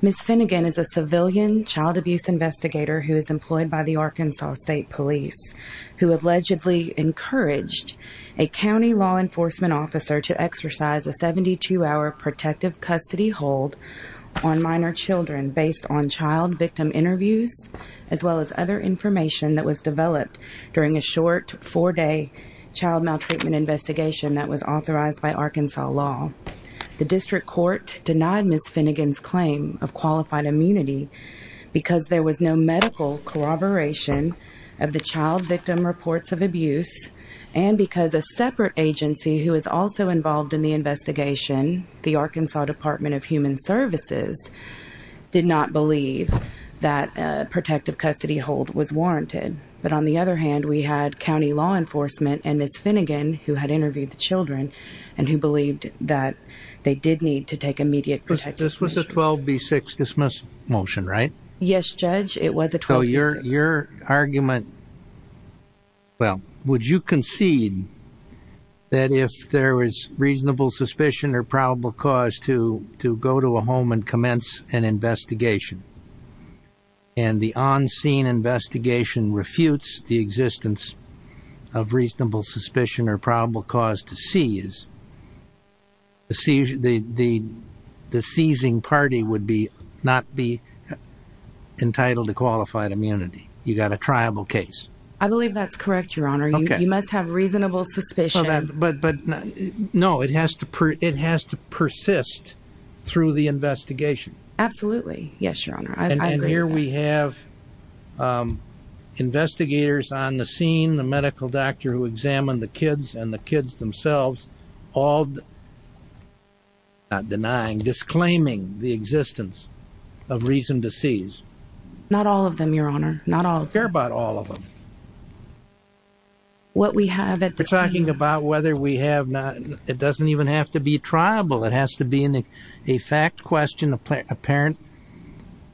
Ms. Finnegan is a civilian child abuse investigator who is employed by the Arkansas State Police, who allegedly encouraged a county law enforcement officer to exercise a seven-day probation and 72-hour protective custody hold on minor children based on child victim interviews, as well as other information that was developed during a short four-day child maltreatment investigation that was authorized by Arkansas law. The district court denied Ms. Finnegan's claim of qualified immunity because there was no medical corroboration of the child victim reports of abuse and because a separate agency who was also involved in the investigation, the Arkansas Department of Human Services, did not believe that a protective custody hold was warranted. But on the other hand, we had county law enforcement and Ms. Finnegan, who had interviewed the children, and who believed that they did need to take immediate protective custody. This was a 12B6 dismiss motion, right? Yes, Judge, it was a 12B6. So your argument, well, would you concede that if there was reasonable suspicion or probable cause to go to a home and commence an investigation and the on-scene investigation refutes the existence of reasonable suspicion or probable cause to seize, the seizing party would not be entitled to qualified immunity? You've got a triable case. I believe that's correct, Your Honor. You must have reasonable suspicion. No, it has to persist through the investigation. Absolutely. Yes, Your Honor, I agree with that. And here we have investigators on the scene, the medical doctor who examined the kids and the kids themselves, all not denying, disclaiming the existence of reason to seize. Not all of them, Your Honor. Not all. I care about all of them. What we have at the scene. We're talking about whether we have not. It doesn't even have to be triable. It has to be a fact question apparent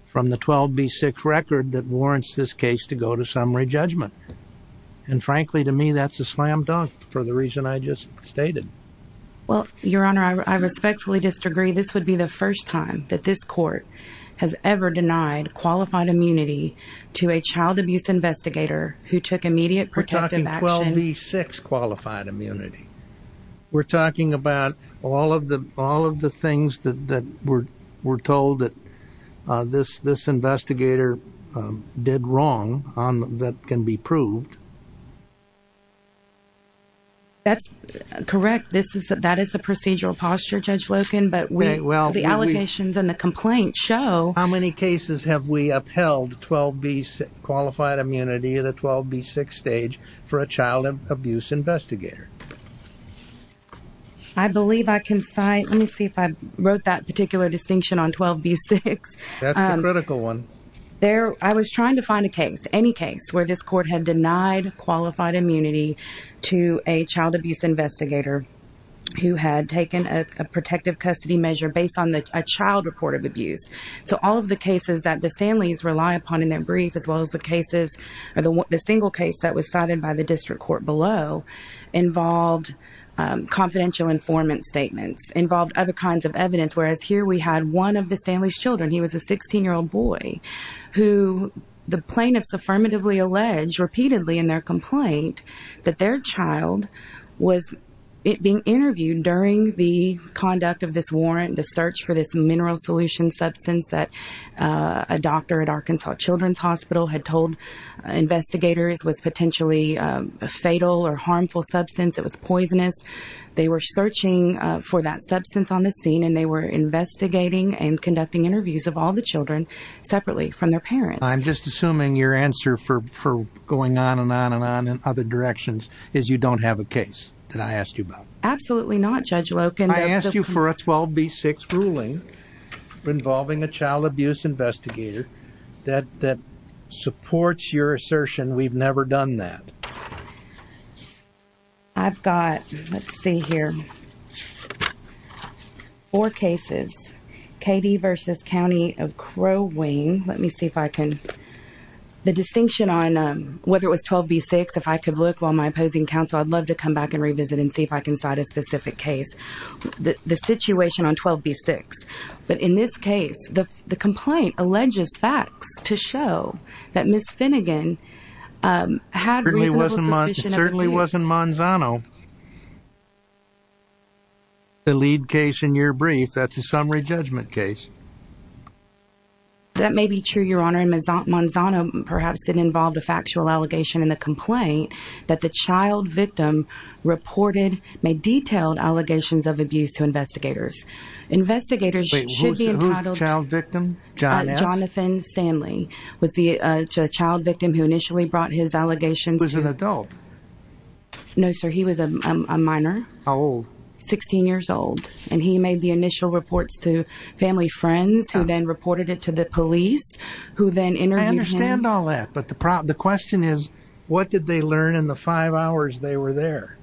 from the 12B6 record that warrants this case to go to summary judgment. And frankly, to me, that's a slam dunk for the reason I just stated. Well, Your Honor, I respectfully disagree. This would be the first time that this court has ever denied qualified immunity to a child abuse investigator who took immediate protective action. We're talking 12B6 qualified immunity. We're talking about all of the things that were told that this investigator did wrong that can be proved. That's correct. That is the procedural posture, Judge Loken. But the allegations and the complaints show. How many cases have we upheld 12B6 qualified immunity at a 12B6 stage for a child abuse investigator? I believe I can cite. Let me see if I wrote that particular distinction on 12B6. That's the critical one. I was trying to find a case, any case, where this court had denied qualified immunity to a child abuse investigator who had taken a protective custody measure based on a child report of abuse. So all of the cases that the Sandleys rely upon in their brief, as well as the single case that was cited by the district court below, involved confidential informant statements, involved other kinds of evidence. Whereas here we had one of the Sandleys' children, he was a 16-year-old boy, who the plaintiffs affirmatively allege repeatedly in their complaint that their child was being interviewed during the conduct of this warrant, the search for this mineral solution substance that a doctor at Arkansas Children's Hospital had told investigators was potentially a fatal or harmful substance. It was poisonous. They were searching for that substance on the scene, and they were investigating and conducting interviews of all the children separately from their parents. I'm just assuming your answer for going on and on and on in other directions is you don't have a case that I asked you about. Absolutely not, Judge Loken. I asked you for a 12B6 ruling involving a child abuse investigator that supports your assertion we've never done that. I've got, let's see here, four cases, KD v. County of Crow Wing. Let me see if I can. The distinction on whether it was 12B6, if I could look while my opposing counsel, I'd love to come back and revisit and see if I can cite a specific case. The situation on 12B6, but in this case, the complaint alleges facts to show that Ms. Finnegan had reasonable suspicion. It certainly wasn't Manzano. The lead case in your brief, that's a summary judgment case. That may be true, Your Honor, and Manzano perhaps did involve a factual allegation in the complaint that the child victim reported, made detailed allegations of abuse to investigators. Investigators should be entitled... Wait, who's the child victim? Jonathan Stanley was the child victim who initially brought his allegations to... Who's an adult? No, sir, he was a minor. How old? 16 years old. And he made the initial reports to family friends who then reported it to the police, who then interviewed him. I understand all that, but the question is, what did they learn in the five hours they were there?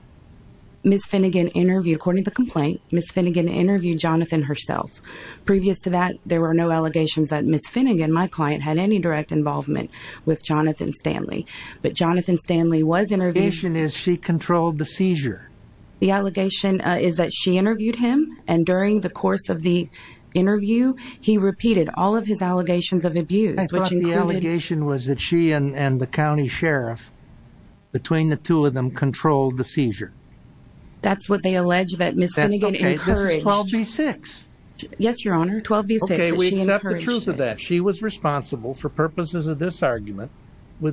Ms. Finnegan interviewed, according to the complaint, Ms. Finnegan interviewed Jonathan herself. Previous to that, there were no allegations that Ms. Finnegan, my client, had any direct involvement with Jonathan Stanley. But Jonathan Stanley was interviewed... The allegation is she controlled the seizure. The allegation is that she interviewed him, and during the course of the interview, he repeated all of his allegations of abuse, which included... The allegation was that she and the county sheriff, between the two of them, controlled the seizure. That's what they allege that Ms. Finnegan encouraged. This is 12b-6. Yes, Your Honor, 12b-6. Okay, we accept the truth of that. She was responsible, for purposes of this argument,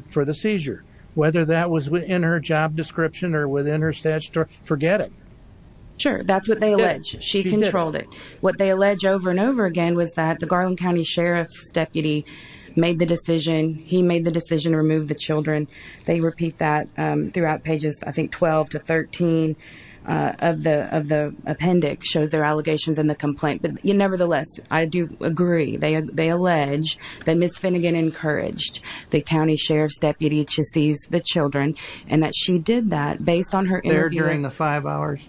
for the seizure. Whether that was in her job description or within her statutory... Forget it. Sure, that's what they allege. She controlled it. What they allege over and over again was that the Garland County Sheriff's deputy made the decision. He made the decision to remove the children. They repeat that throughout pages, I think, 12 to 13 of the appendix, shows their allegations and the complaint. But nevertheless, I do agree. They allege that Ms. Finnegan encouraged the county sheriff's deputy to seize the children, and that she did that based on her interviewing... There during the five hours?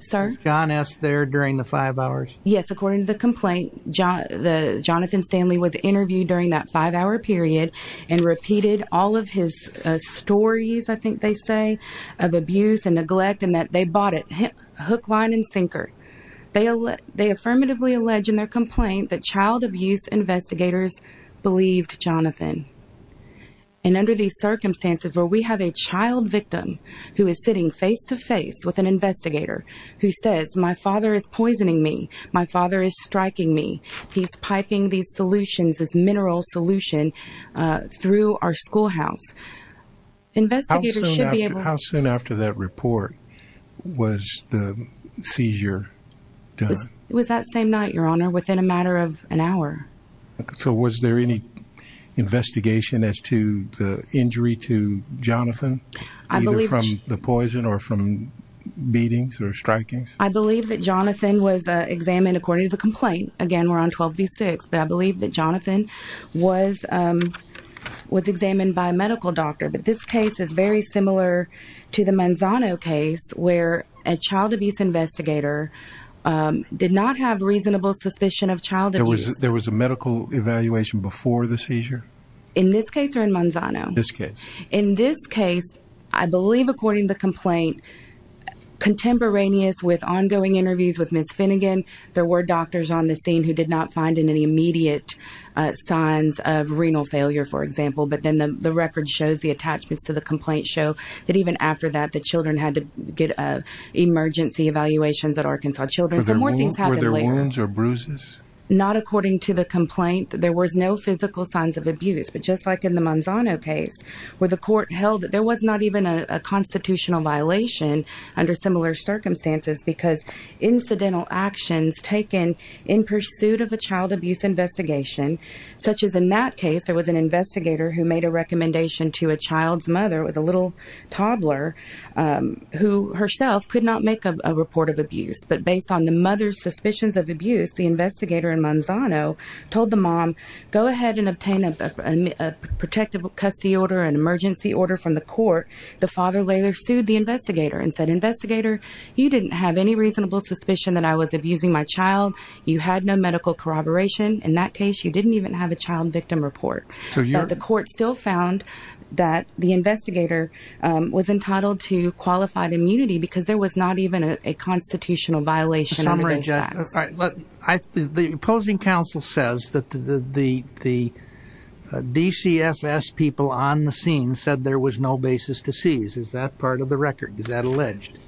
Sir? Was John S. there during the five hours? Yes, according to the complaint, Jonathan Stanley was interviewed during that five-hour period and repeated all of his stories, I think they say, of abuse and neglect, and that they bought it hook, line, and sinker. They affirmatively allege in their complaint that child abuse investigators believed Jonathan. And under these circumstances where we have a child victim who is sitting face-to-face with an investigator who says, my father is poisoning me, my father is striking me, he's piping these solutions, this mineral solution, through our schoolhouse, investigators should be able to... How soon after that report was the seizure done? It was that same night, Your Honor, within a matter of an hour. So was there any investigation as to the injury to Jonathan, either from the poison or from beatings or strikings? I believe that Jonathan was examined according to the complaint. Again, we're on 12B6. But I believe that Jonathan was examined by a medical doctor. But this case is very similar to the Manzano case where a child abuse investigator did not have reasonable suspicion of child abuse. There was a medical evaluation before the seizure? In this case or in Manzano? This case. In this case, I believe according to the complaint, contemporaneous with ongoing interviews with Ms. Finnegan, there were doctors on the scene who did not find any immediate signs of renal failure, for example. But then the record shows, the attachments to the complaint show, that even after that the children had to get emergency evaluations at Arkansas Children's. Were there wounds or bruises? Not according to the complaint. There was no physical signs of abuse. But just like in the Manzano case where the court held that there was not even a constitutional violation under similar circumstances because incidental actions taken in pursuit of a child abuse investigation, such as in that case there was an investigator who made a recommendation to a child's mother with a little toddler who herself could not make a report of abuse. But based on the mother's suspicions of abuse, the investigator in Manzano told the mom, go ahead and obtain a protective custody order, an emergency order from the court. The father later sued the investigator and said, investigator, you didn't have any reasonable suspicion that I was abusing my child. You had no medical corroboration. In that case, you didn't even have a child victim report. The court still found that the investigator was entitled to qualified immunity because there was not even a constitutional violation. The opposing counsel says that the DCFS people on the scene said there was no basis to seize. Is that part of the record? Is that alleged?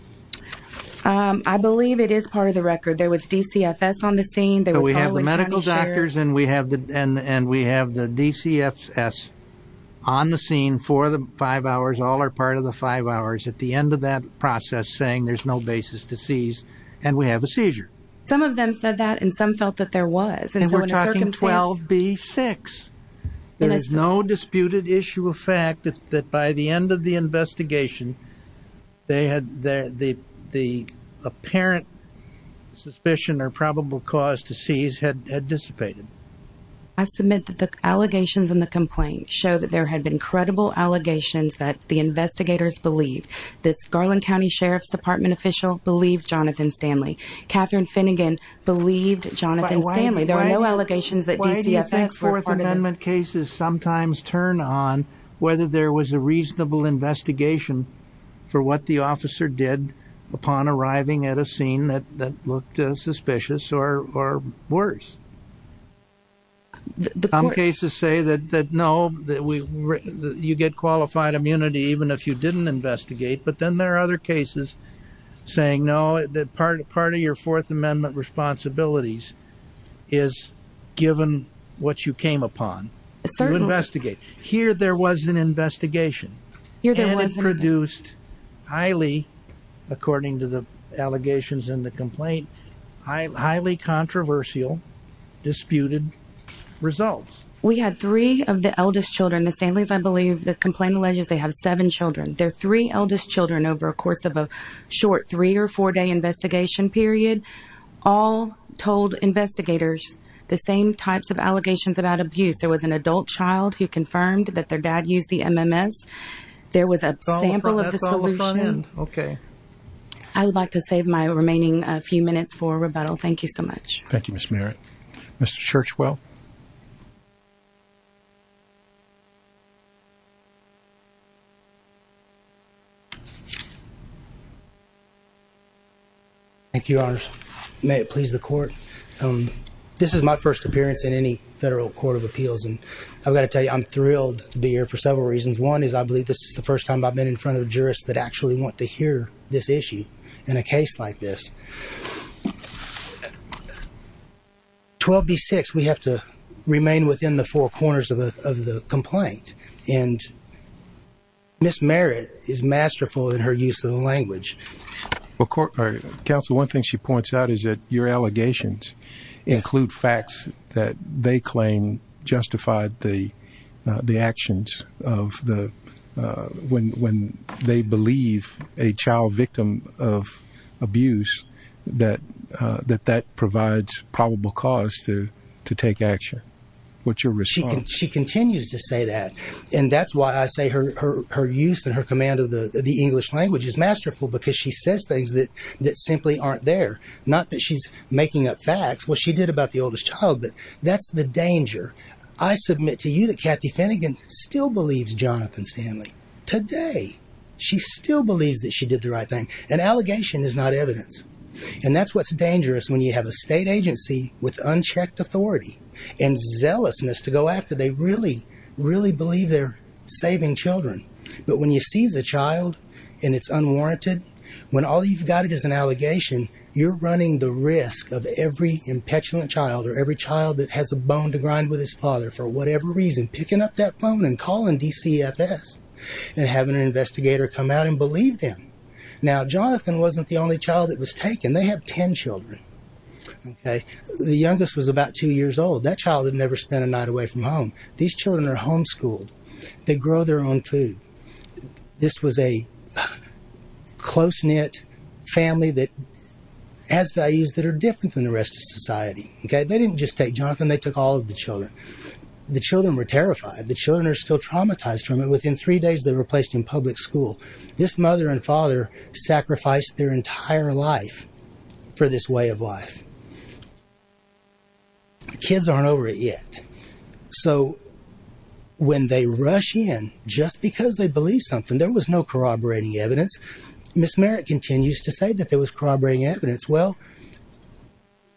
I believe it is part of the record. There was DCFS on the scene. We have the medical doctors and we have the DCFS on the scene for the five hours. All are part of the five hours at the end of that process saying there's no basis to seize. And we have a seizure. Some of them said that and some felt that there was. And we're talking 12B6. There is no disputed issue of fact that by the end of the investigation, the apparent suspicion or probable cause to seize had dissipated. I submit that the allegations in the complaint show that there had been credible allegations that the investigators believed. The Garland County Sheriff's Department official believed Jonathan Stanley. Catherine Finnegan believed Jonathan Stanley. There are no allegations that DCFS were part of the complaint. Why do you think Fourth Amendment cases sometimes turn on whether there was a reasonable investigation for what the officer did upon arriving at a scene that looked suspicious or worse? Some cases say that, no, you get qualified immunity even if you didn't investigate. But then there are other cases saying, no, part of your Fourth Amendment responsibilities is given what you came upon to investigate. Here there was an investigation. And it produced highly, according to the allegations in the complaint, highly controversial, disputed results. We had three of the eldest children. The Stanley's, I believe, the complaint alleges they have seven children. They're three eldest children over a course of a short three- or four-day investigation period. All told investigators the same types of allegations about abuse. There was an adult child who confirmed that their dad used the MMS. There was a sample of the solution. I would like to save my remaining few minutes for rebuttal. Thank you so much. Thank you, Ms. Merritt. Mr. Churchwell. Thank you, Your Honors. May it please the Court. This is my first appearance in any federal court of appeals, and I've got to tell you I'm thrilled to be here for several reasons. One is I believe this is the first time I've been in front of jurists that actually want to hear this issue in a case like this. 12B6, we have to remain within the four corners of the complaint. And Ms. Merritt is masterful in her use of the language. Well, Counsel, one thing she points out is that your allegations include facts that they claim justified the actions of when they believe a child victim of abuse that that provides probable cause to take action. What's your response? She continues to say that. And that's why I say her use and her command of the English language is masterful because she says things that simply aren't there. Not that she's making up facts. Well, she did about the oldest child, but that's the danger. I submit to you that Kathy Finnegan still believes Jonathan Stanley. Today, she still believes that she did the right thing. An allegation is not evidence. And that's what's dangerous when you have a state agency with unchecked authority and zealousness to go after they really, really believe they're saving children. But when you seize a child and it's unwarranted, when all you've got is an allegation, you're running the risk of every impetuous child or every child that has a bone to grind with his father for whatever reason picking up that phone and calling DCFS and having an investigator come out and believe them. Now, Jonathan wasn't the only child that was taken. They have 10 children. The youngest was about two years old. That child had never spent a night away from home. These children are homeschooled. They grow their own food. This was a close-knit family that has values that are different than the rest of society. They didn't just take Jonathan. They took all of the children. The children were terrified. The children are still traumatized from it. Within three days, they were placed in public school. This mother and father sacrificed their entire life for this way of life. The kids aren't over it yet. So, when they rush in, just because they believe something, there was no corroborating evidence. Ms. Merritt continues to say that there was corroborating evidence. Well,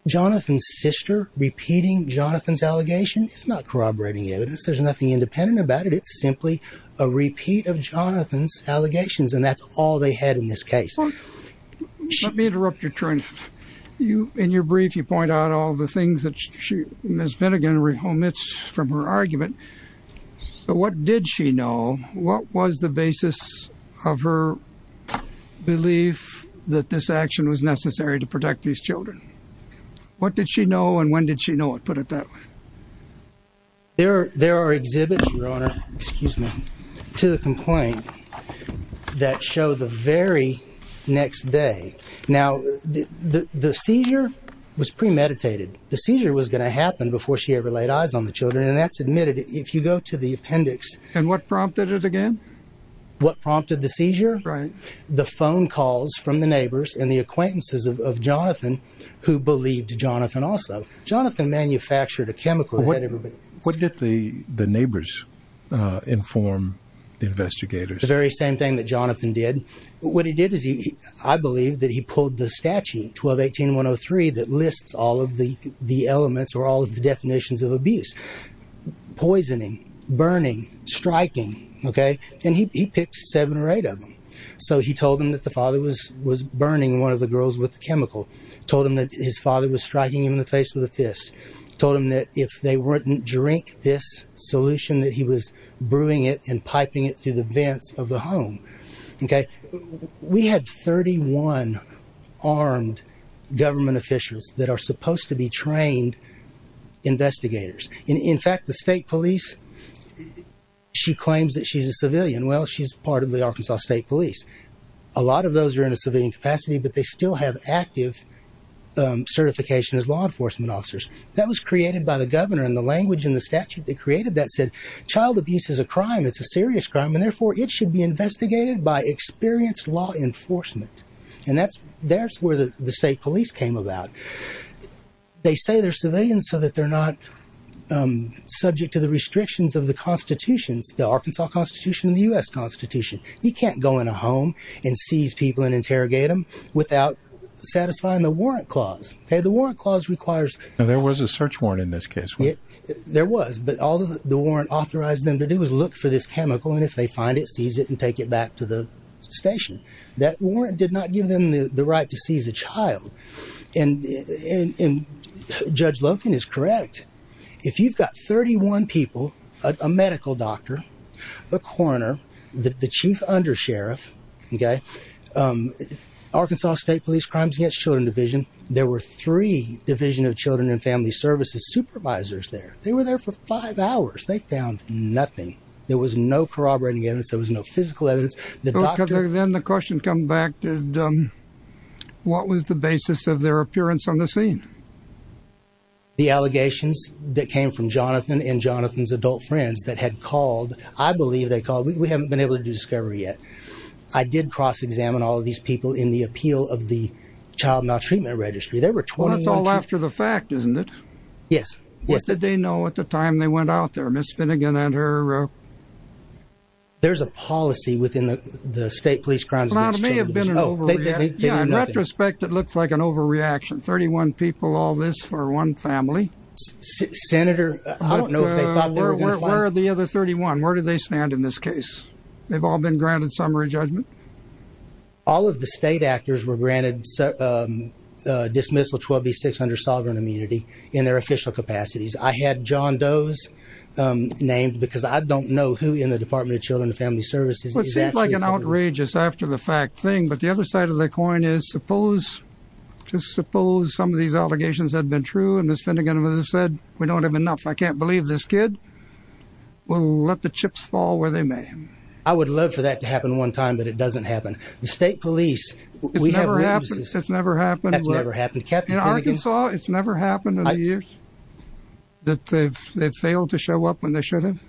Jonathan's sister repeating Jonathan's allegation is not corroborating evidence. There's nothing independent about it. It's simply a repeat of Jonathan's allegations, and that's all they had in this case. Let me interrupt your turn. In your brief, you point out all the things that Ms. Vinnigan omits from her argument. But what did she know? What was the basis of her belief that this action was necessary to protect these children? What did she know, and when did she know it? Put it that way. There are exhibits, Your Honor, to the complaint that show the very next day. Now, the seizure was premeditated. The seizure was going to happen before she ever laid eyes on the children, and that's admitted. If you go to the appendix... And what prompted it again? What prompted the seizure? Right. The phone calls from the neighbors and the acquaintances of Jonathan, who believed Jonathan also. Jonathan manufactured a chemical that had everybody... What did the neighbors inform the investigators? The very same thing that Jonathan did. What he did is he... I believe that he pulled the statute, 12-18-103, that lists all of the elements or all of the definitions of abuse. Poisoning, burning, striking, okay? And he picked seven or eight of them. So he told them that the father was burning one of the girls with the chemical. Told them that his father was striking him in the face with a fist. Told them that if they wouldn't drink this solution, that he was brewing it and piping it through the vents of the home. Okay? We had 31 armed government officials that are supposed to be trained investigators. In fact, the state police, she claims that she's a civilian. Well, she's part of the Arkansas State Police. A lot of those are in a civilian capacity, but they still have active certification as law enforcement officers. That was created by the governor, and the language in the statute that created that said, Child abuse is a crime. It's a serious crime, and therefore it should be investigated by experienced law enforcement. And that's where the state police came about. They say they're civilians so that they're not subject to the restrictions of the constitutions, the Arkansas Constitution and the U.S. Constitution. He can't go in a home and seize people and interrogate them without satisfying the warrant clause. Okay? The warrant clause requires... There was a search warrant in this case. There was, but all the warrant authorized them to do was look for this chemical, and if they find it, seize it and take it back to the station. That warrant did not give them the right to seize a child. And Judge Loken is correct. If you've got 31 people, a medical doctor, a coroner, the chief undersheriff, okay, Arkansas State Police Crimes Against Children Division, there were three Division of Children and Family Services supervisors there. They were there for five hours. They found nothing. There was no corroborating evidence. There was no physical evidence. Then the question comes back, what was the basis of their appearance on the scene? The allegations that came from Jonathan and Jonathan's adult friends that had called, I believe they called. We haven't been able to do discovery yet. I did cross-examine all of these people in the appeal of the child maltreatment registry. There were 21... Well, that's all after the fact, isn't it? Yes. What did they know at the time they went out there, Ms. Finnegan and her... There's a policy within the State Police Crimes Against Children Division. Well, it may have been an overreaction. Oh, they knew nothing. Yeah, in retrospect, it looks like an overreaction, 31 people, all this for one family. Senator, I don't know if they thought they were going to find... Where are the other 31? Where do they stand in this case? They've all been granted summary judgment. All of the state actors were granted dismissal 12B600 sovereign immunity in their official capacities. I had John Doe's named because I don't know who in the Department of Children and Family Services is actually... Well, it seemed like an outrageous after-the-fact thing. But the other side of the coin is, suppose, just suppose some of these allegations had been true, and Ms. Finnegan would have said, we don't have enough, I can't believe this kid. We'll let the chips fall where they may. I would love for that to happen one time, but it doesn't happen. The state police... It's never happened. It's never happened. That's never happened. In Arkansas, it's never happened in the years that they've failed to show up when they should have.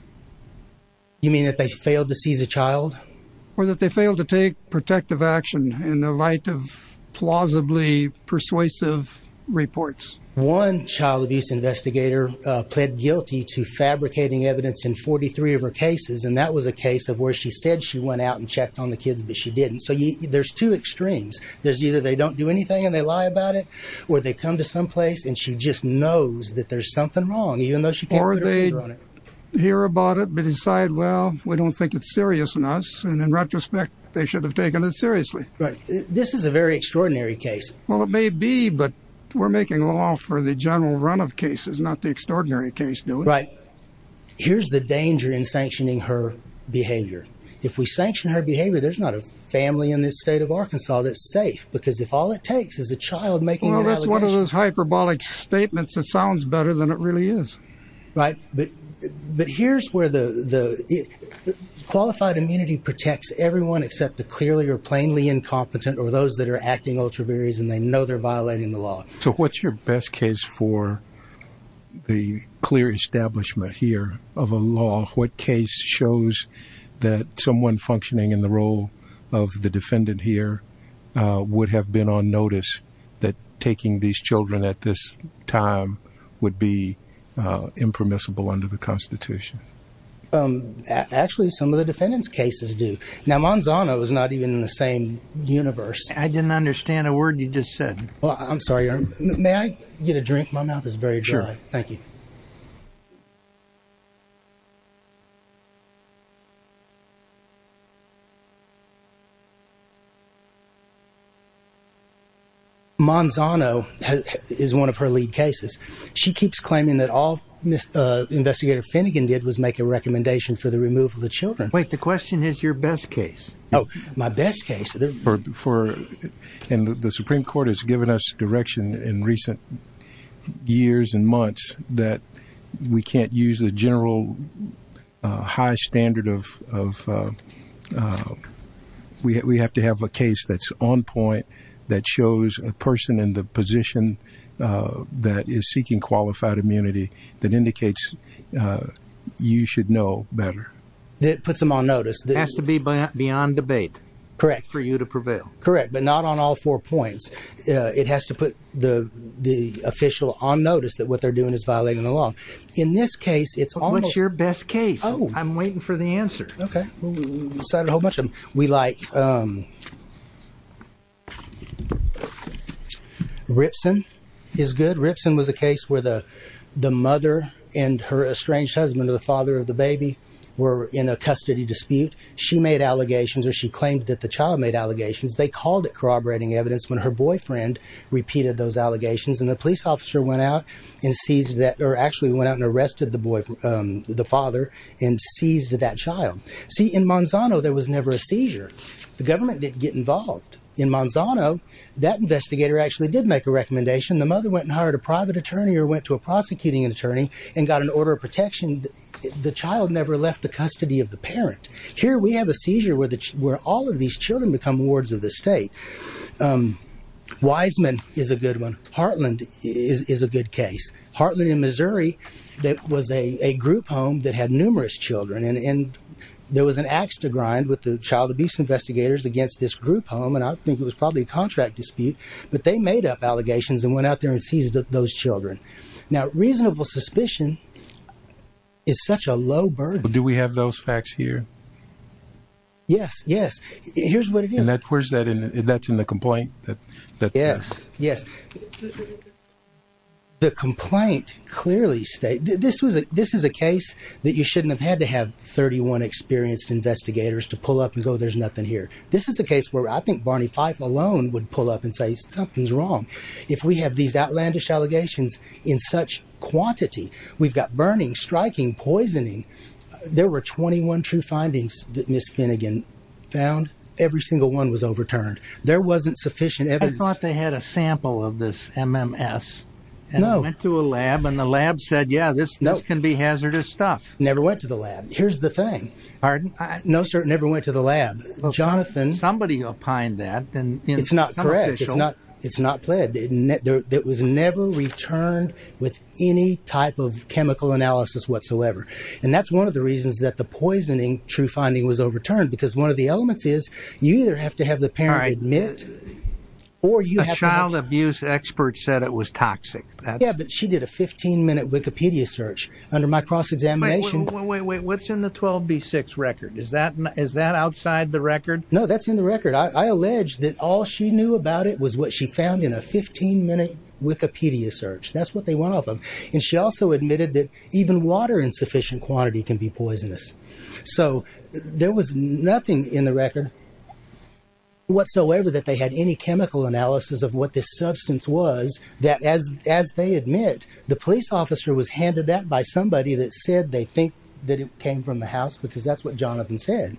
You mean that they failed to seize a child? Or that they failed to take protective action in the light of plausibly persuasive reports. One child abuse investigator pled guilty to fabricating evidence in 43 of her cases, and that was a case of where she said she went out and checked on the kids, but she didn't. So there's two extremes. There's either they don't do anything and they lie about it, or they come to some place and she just knows that there's something wrong, even though she can't put her finger on it. Or they hear about it but decide, well, we don't think it's serious enough, and in retrospect, they should have taken it seriously. Right. This is a very extraordinary case. Well, it may be, but we're making law for the general run of cases, not the extraordinary case, do we? Right. Here's the danger in sanctioning her behavior. If we sanction her behavior, there's not a family in this state of Arkansas that's safe, because if all it takes is a child making an allegation... Well, that's one of those hyperbolic statements that sounds better than it really is. Right. But here's where the... ...except the clearly or plainly incompetent or those that are acting ultra virys and they know they're violating the law. So what's your best case for the clear establishment here of a law? What case shows that someone functioning in the role of the defendant here would have been on notice that taking these children at this time would be impermissible under the Constitution? Actually, some of the defendant's cases do. Now, Manzano is not even in the same universe. I didn't understand a word you just said. Well, I'm sorry. May I get a drink? My mouth is very dry. Sure. Thank you. Manzano is one of her lead cases. She keeps claiming that all Investigator Finnegan did was make a recommendation for the removal of the children. Wait, the question is your best case. Oh, my best case. And the Supreme Court has given us direction in recent years and months that we can't use the general high standard of... We have to have a case that's on point that shows a person in the position that is seeking qualified immunity that indicates you should know better. It puts them on notice. It has to be beyond debate for you to prevail. Correct, but not on all four points. It has to put the official on notice that what they're doing is violating the law. In this case, it's almost... What's your best case? I'm waiting for the answer. Okay. We cited a whole bunch of them. We like... Ripson is good. Ripson was a case where the mother and her estranged husband, the father of the baby, were in a custody dispute. She made allegations or she claimed that the child made allegations. They called it corroborating evidence when her boyfriend repeated those allegations. And the police officer went out and seized that... Or actually went out and arrested the father and seized that child. See, in Manzano, there was never a seizure. The government didn't get involved. In Manzano, that investigator actually did make a recommendation. The mother went and hired a private attorney or went to a prosecuting attorney and got an order of protection. The child never left the custody of the parent. Here, we have a seizure where all of these children become wards of the state. Wiseman is a good one. Heartland is a good case. Heartland in Missouri was a group home that had numerous children. And there was an axe to grind with the child abuse investigators against this group home. And I think it was probably a contract dispute. But they made up allegations and went out there and seized those children. Now, reasonable suspicion is such a low burden. Do we have those facts here? Yes, yes. Here's what it is. And that's in the complaint? Yes, yes. The complaint clearly states, this is a case that you shouldn't have had to have 31 experienced investigators to pull up and go, there's nothing here. This is a case where I think Barney Fife alone would pull up and say, something's wrong. If we have these outlandish allegations in such quantity, we've got burning, striking, poisoning. There were 21 true findings that Ms. Finnegan found. Every single one was overturned. There wasn't sufficient evidence. I thought they had a sample of this MMS. No. And I went to a lab, and the lab said, yeah, this can be hazardous stuff. Never went to the lab. Here's the thing. Pardon? No, sir, never went to the lab. Jonathan. Somebody opined that. It's not correct. It's not pled. It was never returned with any type of chemical analysis whatsoever. And that's one of the reasons that the poisoning true finding was overturned. Because one of the elements is, you either have to have the parent admit, or you have to have... A child abuse expert said it was toxic. Yeah, but she did a 15-minute Wikipedia search. Under my cross-examination... Wait, wait, wait. What's in the 12B6 record? Is that outside the record? No, that's in the record. I allege that all she knew about it was what she found in a 15-minute Wikipedia search. That's what they want off of. And she also admitted that even water in sufficient quantity can be poisonous. So there was nothing in the record whatsoever that they had any chemical analysis of what this substance was. That, as they admit, the police officer was handed that by somebody that said they think that it came from the house. Because that's what Jonathan said.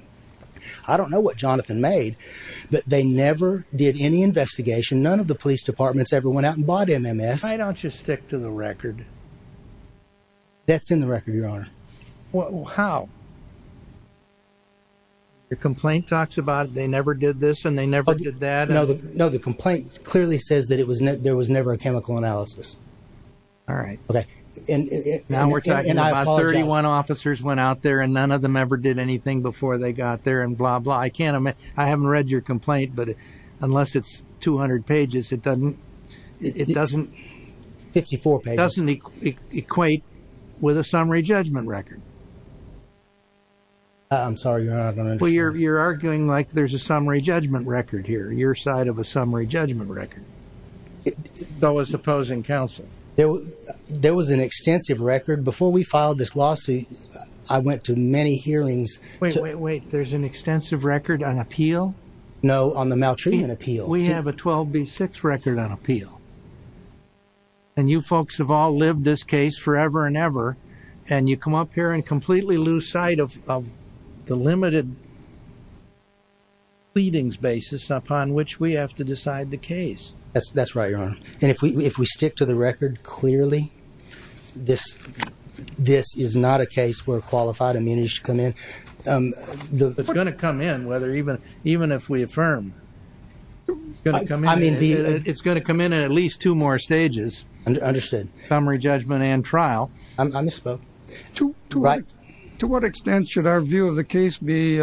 I don't know what Jonathan made. But they never did any investigation. None of the police departments ever went out and bought MMS. Why don't you stick to the record? That's in the record, Your Honor. How? Your complaint talks about they never did this and they never did that. No, the complaint clearly says that there was never a chemical analysis. All right. Okay. Now we're talking about 31 officers went out there and none of them ever did anything before they got there and blah, blah. I can't imagine. I haven't read your complaint, but unless it's 200 pages, it doesn't... It's 54 pages. It doesn't equate with a summary judgment record. I'm sorry, Your Honor. You're arguing like there's a summary judgment record here, your side of a summary judgment record. So is opposing counsel. There was an extensive record. Before we filed this lawsuit, I went to many hearings. Wait, wait, wait. There's an extensive record on appeal? No, on the maltreatment appeal. We have a 12B6 record on appeal. And you folks have all lived this case forever and ever, and you come up here and completely lose sight of the limited pleadings basis upon which we have to decide the case. That's right, Your Honor. And if we stick to the record clearly, this is not a case where qualified immunity should come in. It's going to come in, even if we affirm. It's going to come in at least two more stages. Understood. Summary judgment and trial. I misspoke. To what extent should our view of the case be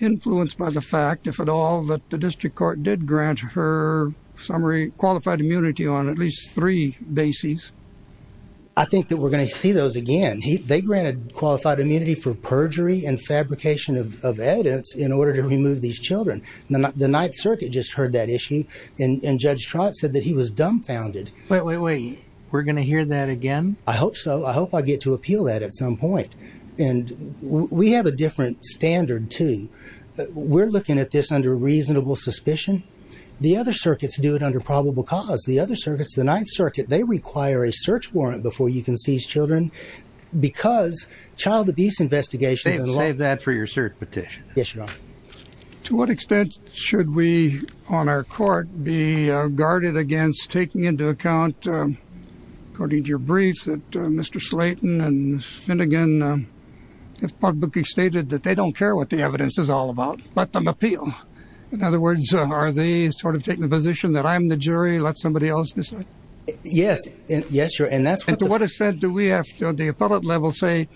influenced by the fact, if at all, that the district court did grant her summary qualified immunity on at least three bases? I think that we're going to see those again. They granted qualified immunity for perjury and fabrication of evidence in order to remove these children. The Ninth Circuit just heard that issue, and Judge Trott said that he was dumbfounded. Wait, wait, wait. We're going to hear that again? I hope so. I hope I get to appeal that at some point. And we have a different standard, too. We're looking at this under reasonable suspicion. The other circuits do it under probable cause. The other circuits, the Ninth Circuit, they require a search warrant before you can seize children because child abuse investigations. Save that for your search petition. Yes, Your Honor. To what extent should we on our court be guarded against taking into account, according to your brief, that Mr. Slayton and Finnegan have publicly stated that they don't care what the evidence is all about. Let them appeal. In other words, are they sort of taking the position that I'm the jury? Let somebody else decide? Yes. Yes, Your Honor. And to what extent do we at the appellate level say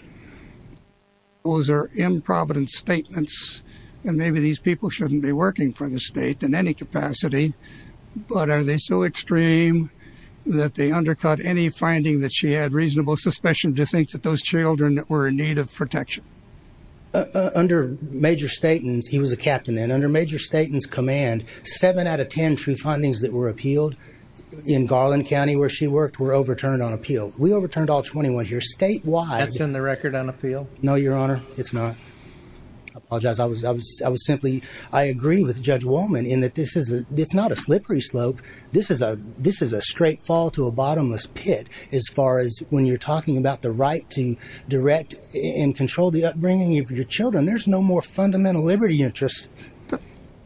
those are improvident statements and maybe these people shouldn't be working for the state in any capacity? But are they so extreme that they undercut any finding that she had reasonable suspicion to think that those children were in need of protection? Under Major Slayton's, he was a captain then, under Major Slayton's command, seven out of ten true findings that were appealed in Garland County where she worked were overturned on appeal. We overturned all 21 here statewide. That's in the record on appeal? No, Your Honor. It's not. I apologize. I agree with Judge Wolman in that this is not a slippery slope. This is a straight fall to a bottomless pit as far as when you're talking about the right to direct and control the upbringing of your children. There's no more fundamental liberty interest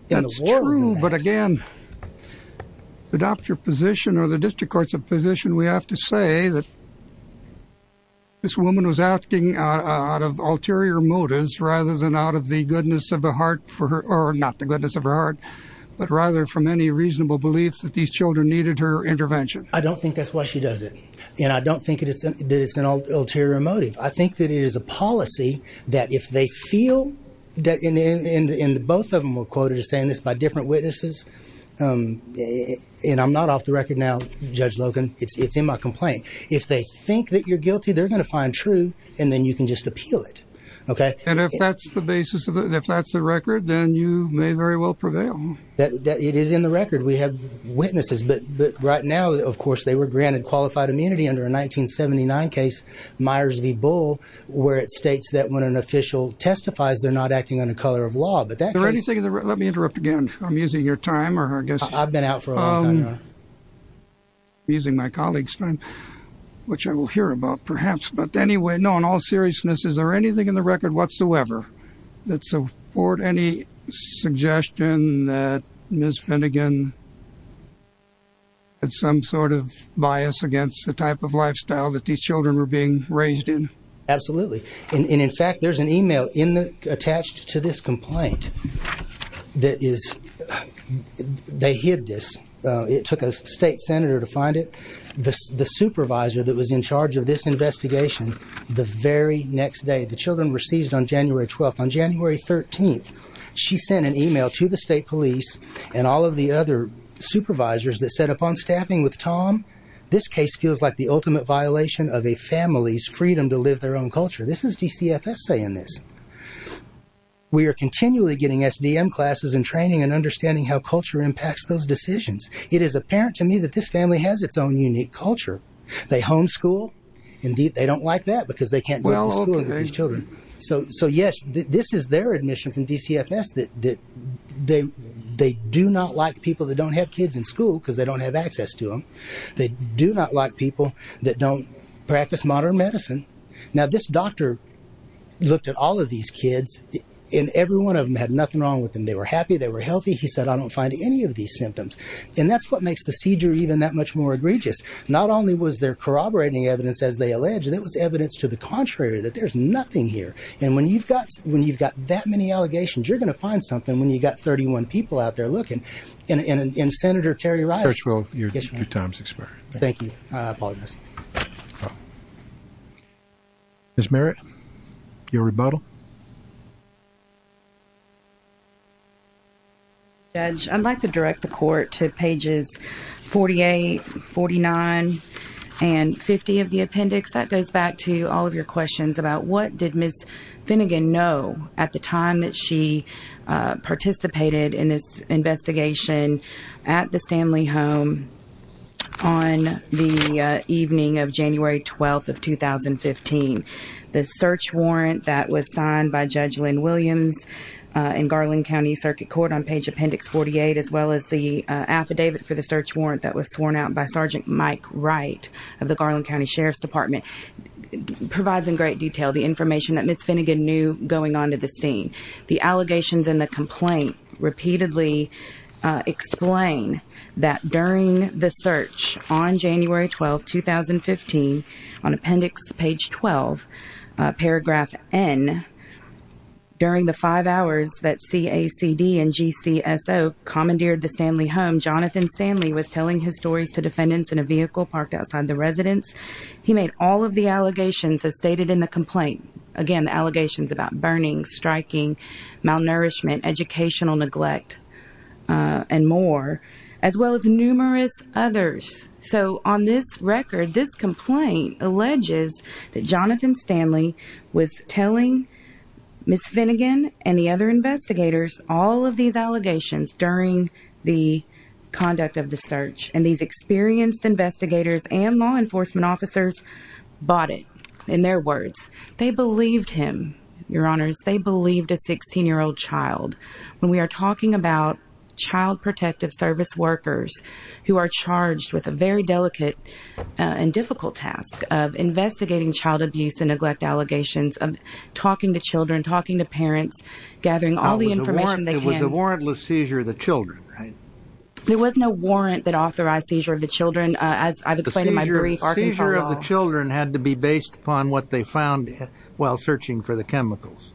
in the world than that. But again, to adopt your position or the district court's position, we have to say that this woman was asking out of ulterior motives rather than out of the goodness of her heart or not the goodness of her heart but rather from any reasonable belief that these children needed her intervention. I don't think that's why she does it. And I don't think that it's an ulterior motive. I think that it is a policy that if they feel and both of them were quoted as saying this by different witnesses and I'm not off the record now, Judge Logan, it's in my complaint. If they think that you're guilty, they're going to find true and then you can just appeal it. Okay? And if that's the basis of it, if that's the record, then you may very well prevail. It is in the record. We have witnesses. But right now, of course, they were granted qualified immunity under a 1979 case, Myers v. Bull, where it states that when an official testifies, they're not acting on the color of law. Let me interrupt again. I'm using your time. I've been out for a long time now. I'm using my colleague's time, which I will hear about perhaps. But anyway, no, in all seriousness, is there anything in the record whatsoever that support any suggestion that Ms. Finnegan had some sort of bias against the type of lifestyle that these children were being raised in? Absolutely. And, in fact, there's an e-mail attached to this complaint that is they hid this. It took a state senator to find it. The supervisor that was in charge of this investigation, the very next day, the children were seized on January 12th. On January 13th, she sent an e-mail to the state police and all of the other supervisors that said upon staffing with Tom, this case feels like the ultimate violation of a family's freedom to live their own culture. This is DCFS saying this. We are continually getting SDM classes and training and understanding how culture impacts those decisions. It is apparent to me that this family has its own unique culture. They homeschool. Indeed, they don't like that because they can't go to school with these children. So, yes, this is their admission from DCFS that they do not like people that don't have kids in school because they don't have access to them. They do not like people that don't practice modern medicine. Now, this doctor looked at all of these kids, and every one of them had nothing wrong with them. They were happy. They were healthy. He said, I don't find any of these symptoms. And that's what makes the seizure even that much more egregious. Not only was there corroborating evidence, as they allege, and it was evidence to the contrary, that there's nothing here. And when you've got that many allegations, you're going to find something when you've got 31 people out there looking. And Senator Terry Rice. Churchill, your time is expired. Thank you. I apologize. Ms. Merritt, your rebuttal. Judge, I'd like to direct the court to pages 48, 49, and 50 of the appendix. That goes back to all of your questions about what did Ms. Finnegan know at the time that she participated in this investigation at the Stanley home on the evening of January 12th of 2015. The search warrant that was signed by Judge Lynn Williams in Garland County Circuit Court on page appendix 48, as well as the affidavit for the search warrant that was sworn out by Sergeant Mike Wright of the Garland County Sheriff's Department, provides in great detail the information that Ms. Finnegan knew going onto the scene. The allegations in the complaint repeatedly explain that during the search on January 12th, 2015, on appendix page 12, paragraph N, during the five hours that CACD and GCSO commandeered the Stanley home, Jonathan Stanley was telling his stories to defendants in a vehicle parked outside the residence. He made all of the allegations as stated in the complaint. Again, the allegations about burning, striking, malnourishment, educational neglect, and more, as well as numerous others. So on this record, this complaint alleges that Jonathan Stanley was telling Ms. Finnegan and the other investigators all of these allegations during the conduct of the search. And these experienced investigators and law enforcement officers bought it, in their words. They believed him, Your Honors. They believed a 16-year-old child. When we are talking about child protective service workers who are charged with a very delicate and difficult task of investigating child abuse and neglect allegations, of talking to children, talking to parents, gathering all the information they can. It was a warrantless seizure of the children, right? There was no warrant that authorized seizure of the children. The seizure of the children had to be based upon what they found while searching for the chemicals.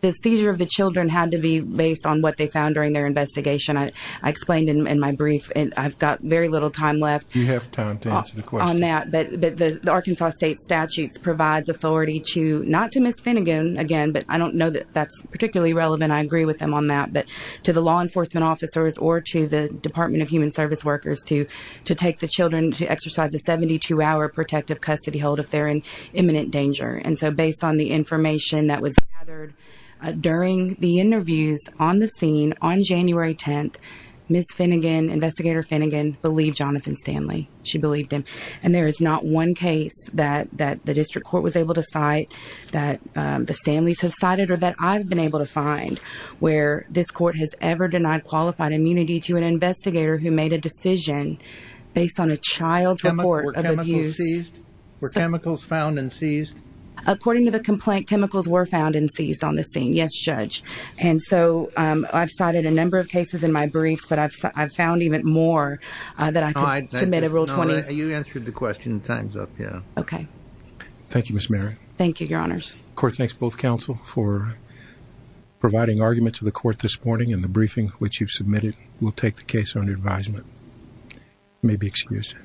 The seizure of the children had to be based on what they found during their investigation. I explained in my brief, and I've got very little time left on that. You have time to answer the question. But the Arkansas state statutes provides authority to, not to Ms. Finnegan, again, but I don't know that that's particularly relevant. I agree with them on that. But to the law enforcement officers or to the Department of Human Service workers, to take the children to exercise a 72-hour protective custody hold if they're in imminent danger. And so based on the information that was gathered during the interviews on the scene on January 10th, Ms. Finnegan, Investigator Finnegan, believed Jonathan Stanley. She believed him. And there is not one case that the district court was able to cite that the Stanleys have cited or that I've been able to find where this court has ever denied qualified immunity to an investigator who made a decision based on a child's report of abuse. Were chemicals seized? Were chemicals found and seized? According to the complaint, chemicals were found and seized on the scene. Yes, Judge. And so I've cited a number of cases in my briefs, but I've found even more that I could submit a Rule 20. You answered the question. Time's up, yeah. Okay. Thank you, Ms. Merritt. Thank you, Your Honors. The court thanks both counsel for providing argument to the court this morning in the briefing which you've submitted. We'll take the case under advisement. You may be excused.